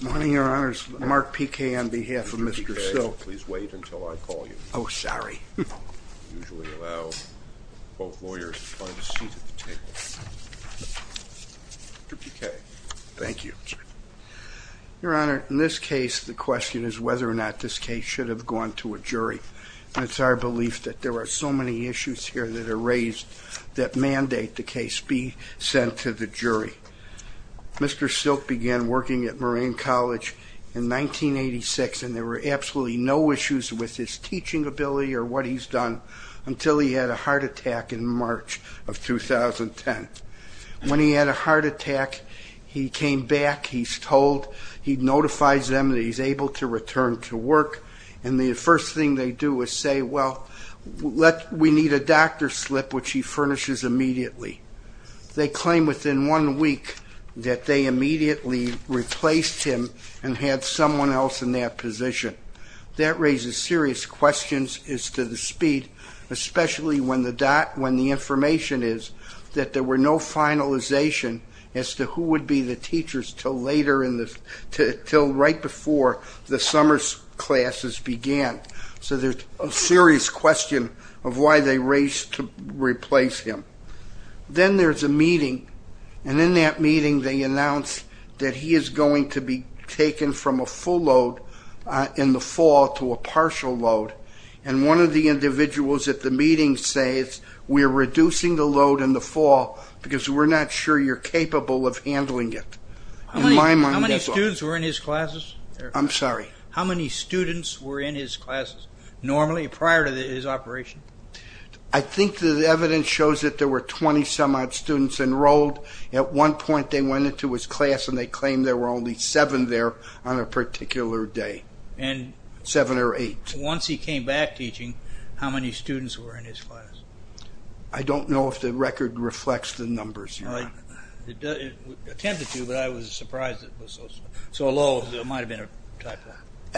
Good morning, Your Honors. Mark Piquet on behalf of Mr. Silk. Mr. Piquet, please wait until I call you. Oh, sorry. I usually allow both lawyers to find a seat at the table. Mr. Piquet. Thank you. Your Honor, in this case, the question is whether or not this case should have gone to a jury. And it's our belief that there are so many issues here that are raised that mandate the case be sent to the jury. Mr. Silk began working at Moraine College in 1986, and there were absolutely no issues with his teaching ability or what he's done until he had a heart attack in March of 2010. When he had a heart attack, he came back, he's told, he notifies them that he's able to return to work, and the first thing they do is say, well, we need a doctor's slip, which he furnishes immediately. They claim within one week that they immediately replaced him and had someone else in that position. That raises serious questions as to the speed, especially when the information is that there were no finalization as to who would be the teachers until right before the summer classes began. So there's a serious question of why they raced to replace him. Then there's a meeting, and in that meeting they announce that he is going to be taken from a full load in the fall to a partial load. And one of the individuals at the meeting says, we're reducing the load in the fall because we're not sure you're capable of handling it. In my mind, that's all. How many students were in his classes? I'm sorry? How many students were in his classes normally prior to his operation? I think the evidence shows that there were 20 some odd students enrolled. At one point they went into his class and they claimed there were only seven there on a particular day. Seven or eight. Once he came back teaching, how many students were in his class? I don't know if the record reflects the numbers. It tended to, but I was surprised it was so low. It might have been a typo.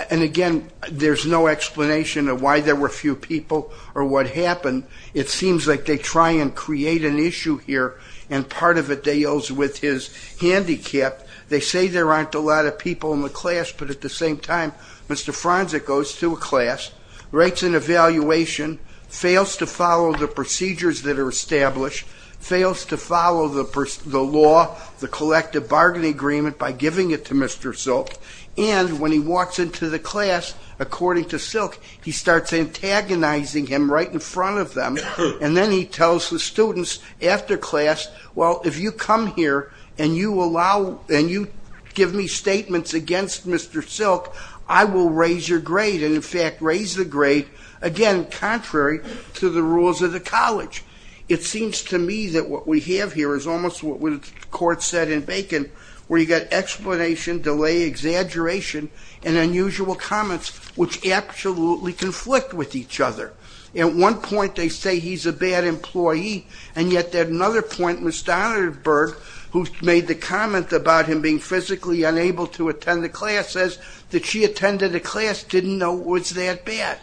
And again, there's no explanation of why there were few people or what happened. It seems like they try and create an issue here, and part of it deals with his handicap. They say there aren't a lot of people in the class, but at the same time, Mr. Fronsick goes to a class, writes an evaluation, fails to follow the procedures that are established, fails to follow the law, the collective bargaining agreement by giving it to Mr. Silk, and when he walks into the class, according to Silk, he starts antagonizing him right in front of them, and then he tells the students after class, well, if you come here and you give me statements against Mr. Silk, I will raise your grade, and in fact raise the grade, again, contrary to the rules of the college. It seems to me that what we have here is almost what the court said in Bacon, where you've got explanation, delay, exaggeration, and unusual comments, which absolutely conflict with each other. At one point, they say he's a bad employee, and yet at another point, Ms. Donenberg, who made the comment about him being physically unable to attend the class, says that she attended the class, didn't know it was that bad.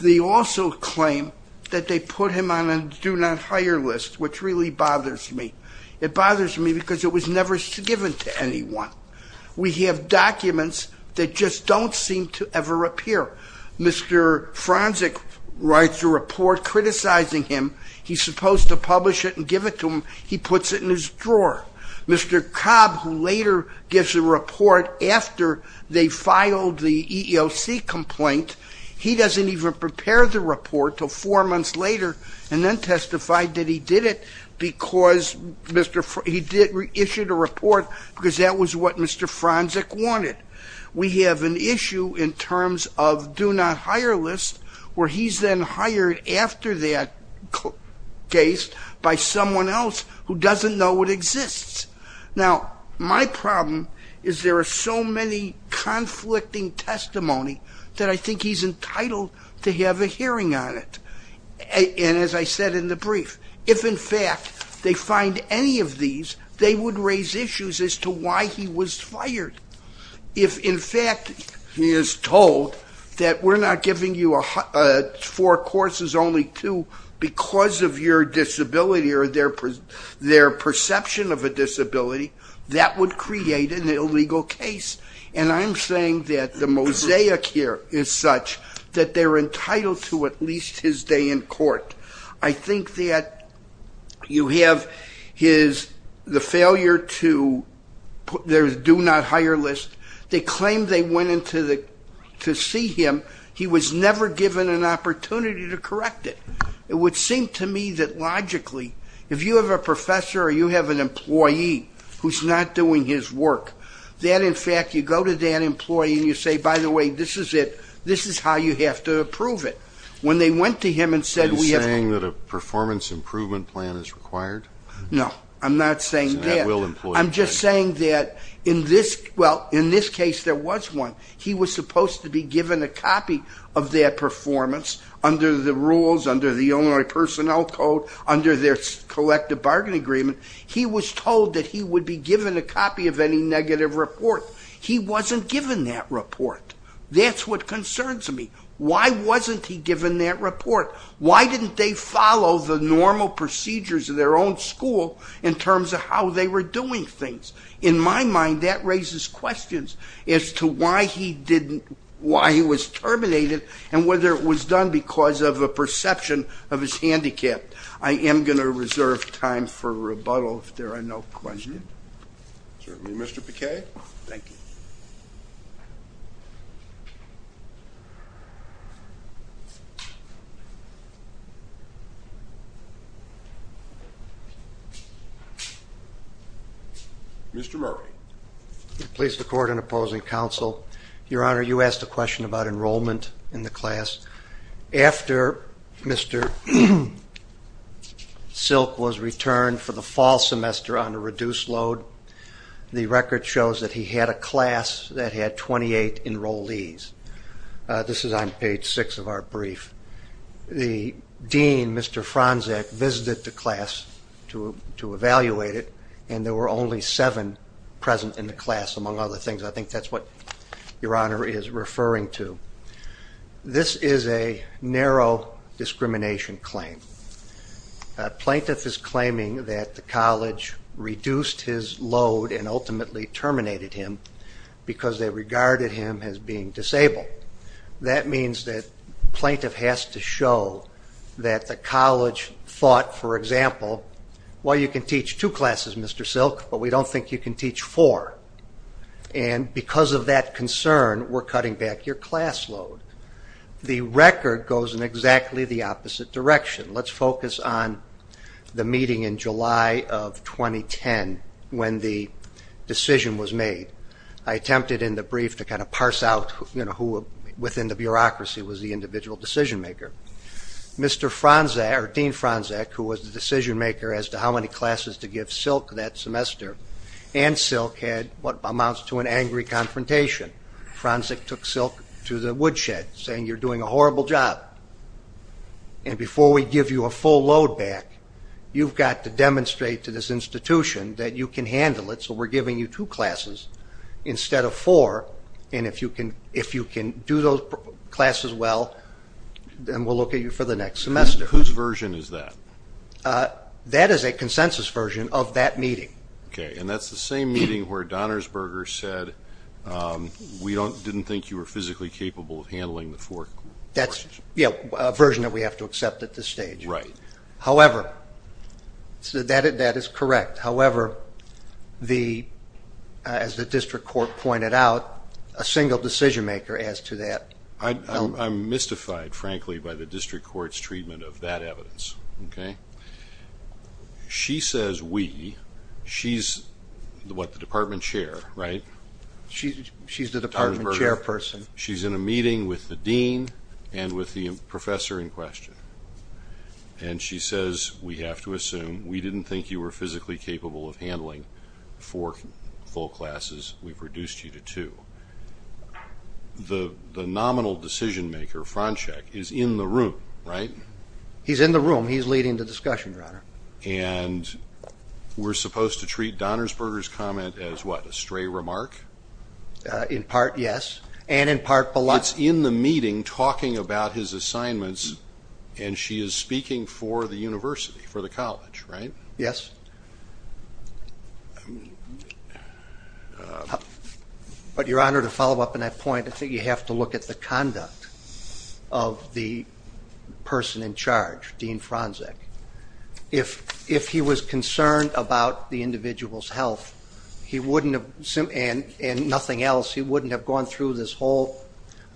They also claim that they put him on a do not hire list, which really bothers me. It bothers me because it was never given to anyone. We have documents that just don't seem to ever appear. Mr. Fronsick writes a report criticizing him. He's supposed to publish it and give it to him. He puts it in his drawer. Mr. Cobb, who later gives a report after they filed the EEOC complaint, he doesn't even prepare the report until four months later and then testified that he did it because he issued a report because that was what Mr. Fronsick wanted. We have an issue in terms of do not hire list, where he's then hired after that case by someone else who doesn't know it exists. Now, my problem is there are so many conflicting testimony that I think he's entitled to have a hearing on it. And as I said in the brief, if, in fact, they find any of these, they would raise issues as to why he was fired. If, in fact, he is told that we're not giving you four courses, only two, because of your disability or their perception of a disability, that would create an illegal case. And I'm saying that the mosaic here is such that they're entitled to at least his day in court. I think that you have the failure to put their do not hire list. They claim they went in to see him. He was never given an opportunity to correct it. It would seem to me that logically, if you have a professor or you have an employee who's not doing his work, that, in fact, you go to that employee and you say, by the way, this is it, this is how you have to approve it. When they went to him and said we have... You're saying that a performance improvement plan is required? No, I'm not saying that. I'm just saying that in this case there was one. He was supposed to be given a copy of their performance under the rules, under the Illinois Personnel Code, under their collective bargain agreement. He was told that he would be given a copy of any negative report. He wasn't given that report. That's what concerns me. Why wasn't he given that report? Why didn't they follow the normal procedures of their own school in terms of how they were doing things? In my mind, that raises questions as to why he didn't... why he was terminated and whether it was done because of a perception of his handicap. I am going to reserve time for rebuttal if there are no questions. Certainly, Mr. Piquet. Thank you. Mr. Murray. Please record an opposing counsel. Your Honor, you asked a question about enrollment in the class. After Mr. Silk was returned for the fall semester on a reduced load, the record shows that he had a class that had 28 enrollees. This is on page 6 of our brief. The dean, Mr. Franczak, visited the class to evaluate it, and there were only seven present in the class, among other things. I think that's what Your Honor is referring to. This is a narrow discrimination claim. A plaintiff is claiming that the college reduced his load and ultimately terminated him because they regarded him as being disabled. That means that the plaintiff has to show that the college thought, for example, well, you can teach two classes, Mr. Silk, but we don't think you can teach four. And because of that concern, we're cutting back your class load. The record goes in exactly the opposite direction. Let's focus on the meeting in July of 2010 when the decision was made. I attempted in the brief to kind of parse out who within the bureaucracy was the individual decision-maker. Mr. Franczak, or Dean Franczak, who was the decision-maker as to how many classes to give Silk that semester, and Silk had what amounts to an angry confrontation. Franczak took Silk to the woodshed, saying, you're doing a horrible job. And before we give you a full load back, you've got to demonstrate to this institution that you can handle it, so we're giving you two classes instead of four, and if you can do those classes well, then we'll look at you for the next semester. Whose version is that? That is a consensus version of that meeting. Okay, and that's the same meeting where Donnersberger said, we didn't think you were physically capable of handling the four courses. Yeah, a version that we have to accept at this stage. Right. However, that is correct. However, as the district court pointed out, a single decision-maker as to that... I'm mystified, frankly, by the district court's treatment of that evidence, okay? She says, we. She's what, the department chair, right? She's the department chairperson. She's in a meeting with the dean and with the professor in question, and she says, we have to assume we didn't think you were physically capable of handling four full classes, we've reduced you to two. The nominal decision-maker, Franschek, is in the room, right? He's in the room. He's leading the discussion, Your Honor. And we're supposed to treat Donnersberger's comment as what, a stray remark? In part, yes, and in part below. It's in the meeting, talking about his assignments, and she is speaking for the university, for the college, right? Yes. But, Your Honor, to follow up on that point, I think you have to look at the conduct of the person in charge, Dean Franschek. If he was concerned about the individual's health, he wouldn't have, and nothing else, he wouldn't have gone through this whole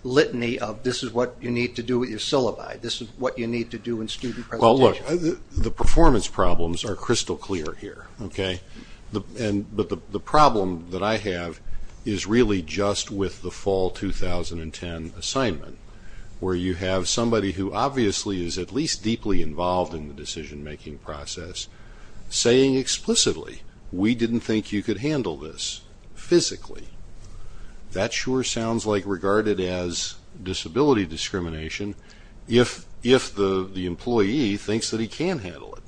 litany of, this is what you need to do with your syllabi, this is what you need to do in student presentations. Well, look, the performance problems are crystal clear here, okay? But the problem that I have is really just with the fall 2010 assignment, where you have somebody who obviously is at least deeply involved in the decision-making process saying explicitly, we didn't think you could handle this physically. That sure sounds like regarded as disability discrimination if the employee thinks that he can handle it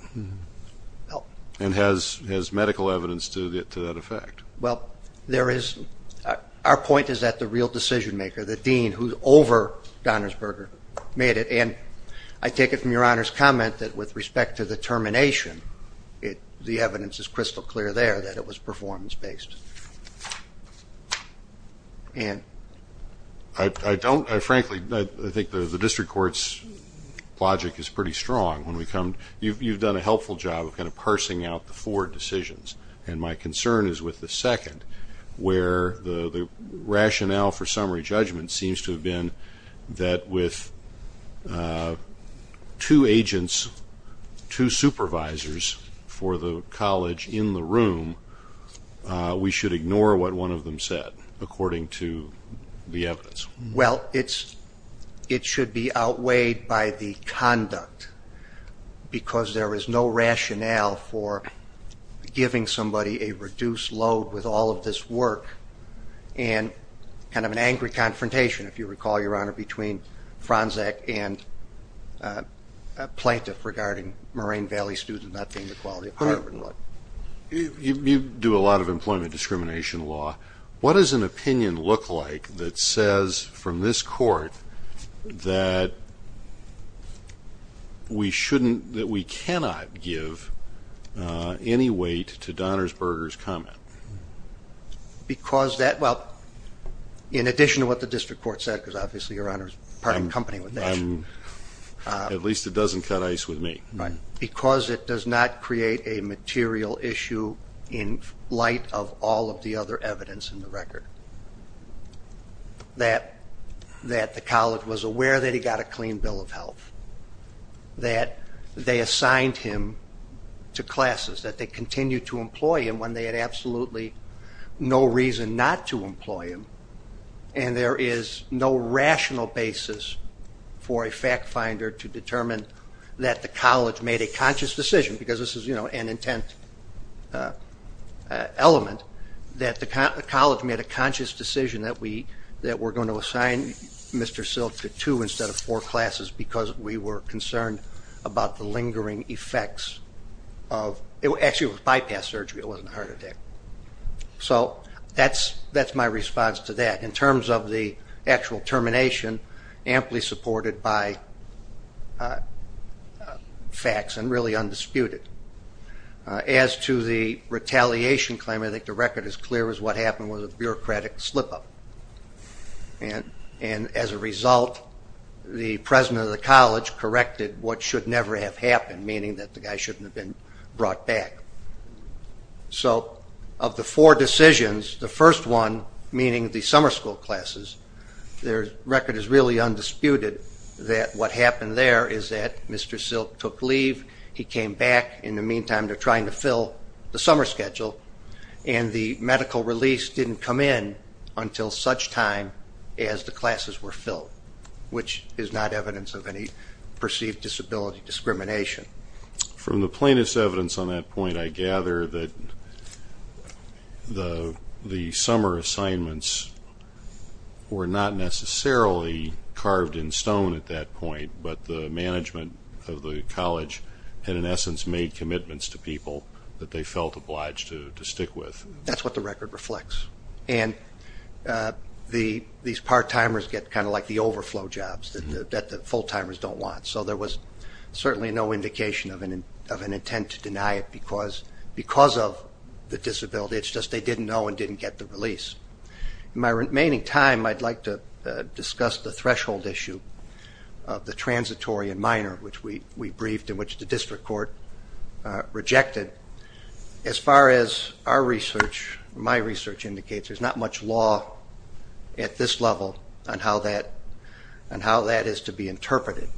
and has medical evidence to that effect. Well, our point is that the real decision-maker, the dean who's over Donnersberger, made it, and I take it from Your Honor's comment that with respect to the termination, the evidence is crystal clear there that it was performance-based. Ann. I don't, frankly, I think the district court's logic is pretty strong. You've done a helpful job of kind of parsing out the four decisions, and my concern is with the second, where the rationale for summary judgment seems to have been that with two agents, two supervisors for the college in the room, we should ignore what one of them said according to the evidence. Well, it should be outweighed by the conduct because there is no rationale for giving somebody a reduced load with all of this work and kind of an angry confrontation, if you recall, Your Honor, between Franczak and a plaintiff regarding Moraine Valley students not paying the quality of Harvard and what. You do a lot of employment discrimination law. What does an opinion look like that says from this court that we cannot give any weight to Donnersberger's comment? Because that, well, in addition to what the district court said, because obviously Your Honor is part of the company with that. At least it doesn't cut ice with me. Because it does not create a material issue in light of all of the other evidence in the record that the college was aware that he got a clean bill of health, that they assigned him to classes, that they continued to employ him when they had absolutely no reason not to employ him, and there is no rational basis for a fact finder to determine that the college made a conscious decision, because this is an intent element, that the college made a conscious decision that we're going to assign Mr. Silk to two instead of four classes because we were concerned about the lingering effects of, actually it was bypass surgery, it wasn't a heart attack. So that's my response to that. In terms of the actual termination, amply supported by facts and really undisputed. As to the retaliation claim, I think the record is clear as what happened was a bureaucratic slip-up. And as a result, the president of the college corrected what should never have happened, meaning that the guy shouldn't have been brought back. So of the four decisions, the first one, meaning the summer school classes, the record is really undisputed that what happened there is that Mr. Silk took leave, he came back, in the meantime they're trying to fill the summer schedule, and the medical release didn't come in until such time as the classes were filled, which is not evidence of any perceived disability discrimination. From the plaintiff's evidence on that point, I gather that the summer assignments were not necessarily carved in stone at that point, but the management of the college had in essence made commitments to people that they felt obliged to stick with. That's what the record reflects. And these part-timers get kind of like the overflow jobs that the full-timers don't want. So there was certainly no indication of an intent to deny it because of the disability, it's just they didn't know and didn't get the release. In my remaining time, I'd like to discuss the threshold issue of the transitory and minor, which we briefed and which the district court rejected. As far as our research, my research indicates, there's not much law at this level on how that is to be interpreted.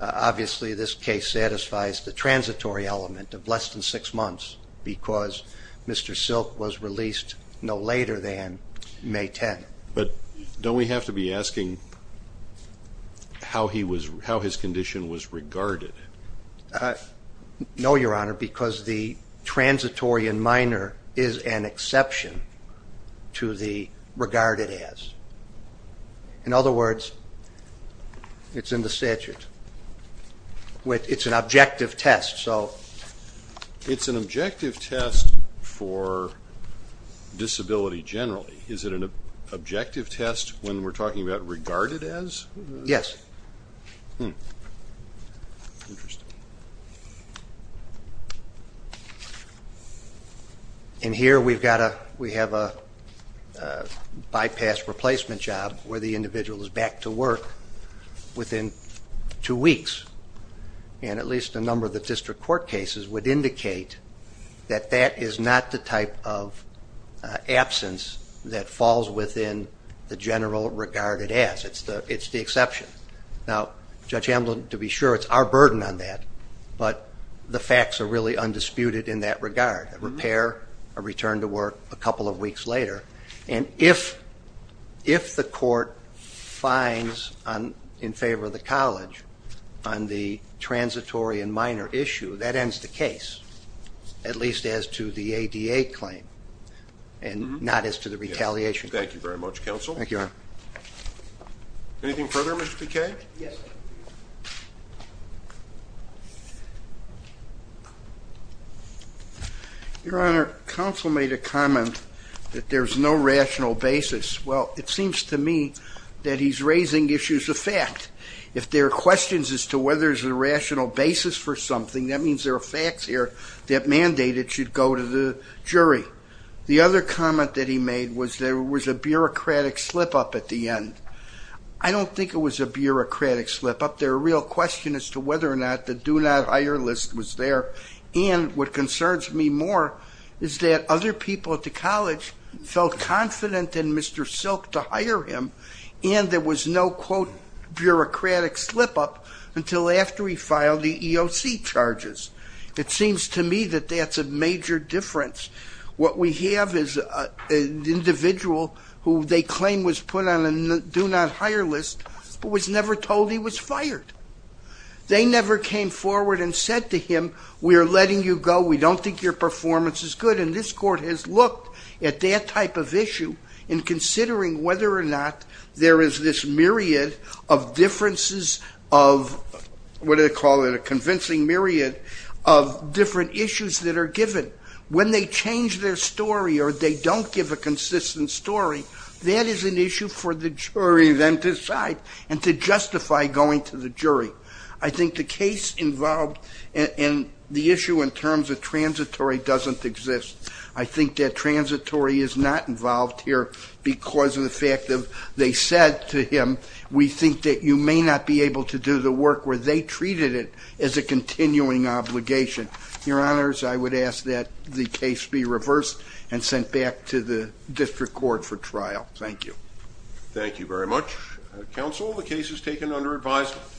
Obviously, this case satisfies the transitory element of less than six months because Mr. Silk was released no later than May 10. But don't we have to be asking how his condition was regarded? There is an exception to the regarded as. In other words, it's in the statute. It's an objective test. It's an objective test for disability generally. Is it an objective test when we're talking about regarded as? Yes. Interesting. And here we have a bypass replacement job where the individual is back to work within two weeks. And at least a number of the district court cases would indicate that that is not the type of absence that falls within the general regarded as. It's the exception. Now, Judge Amblin, to be sure, it's our burden on that, but the facts are really undisputed in that regard, a repair, a return to work a couple of weeks later. And if the court finds in favor of the college on the transitory and minor issue, that ends the case, at least as to the ADA claim and not as to the retaliation claim. Thank you very much, Counsel. Thank you, Your Honor. Anything further, Mr. Piquet? Yes. Your Honor, Counsel made a comment that there's no rational basis. Well, it seems to me that he's raising issues of fact. If there are questions as to whether there's a rational basis for something, that means there are facts here that mandate it should go to the jury. The other comment that he made was there was a bureaucratic slip-up at the end. I don't think it was a bureaucratic slip-up. There are real questions as to whether or not the do-not-hire list was there. And what concerns me more is that other people at the college felt confident in Mr. Silk to hire him, and there was no, quote, bureaucratic slip-up until after he filed the EOC charges. It seems to me that that's a major difference what we have is an individual who they claim was put on a do-not-hire list but was never told he was fired. They never came forward and said to him, we are letting you go, we don't think your performance is good, and this court has looked at that type of issue in considering whether or not there is this myriad of differences of, what do they call it, a convincing myriad of different issues that are given. When they change their story or they don't give a consistent story, that is an issue for the jury then to decide and to justify going to the jury. I think the case involved in the issue in terms of transitory doesn't exist. I think that transitory is not involved here because of the fact that they said to him, we think that you may not be able to do the work where they treated it as a continuing obligation. Your Honors, I would ask that the case be reversed and sent back to the district court for trial. Thank you. Thank you very much. Counsel, the case is taken under advisement.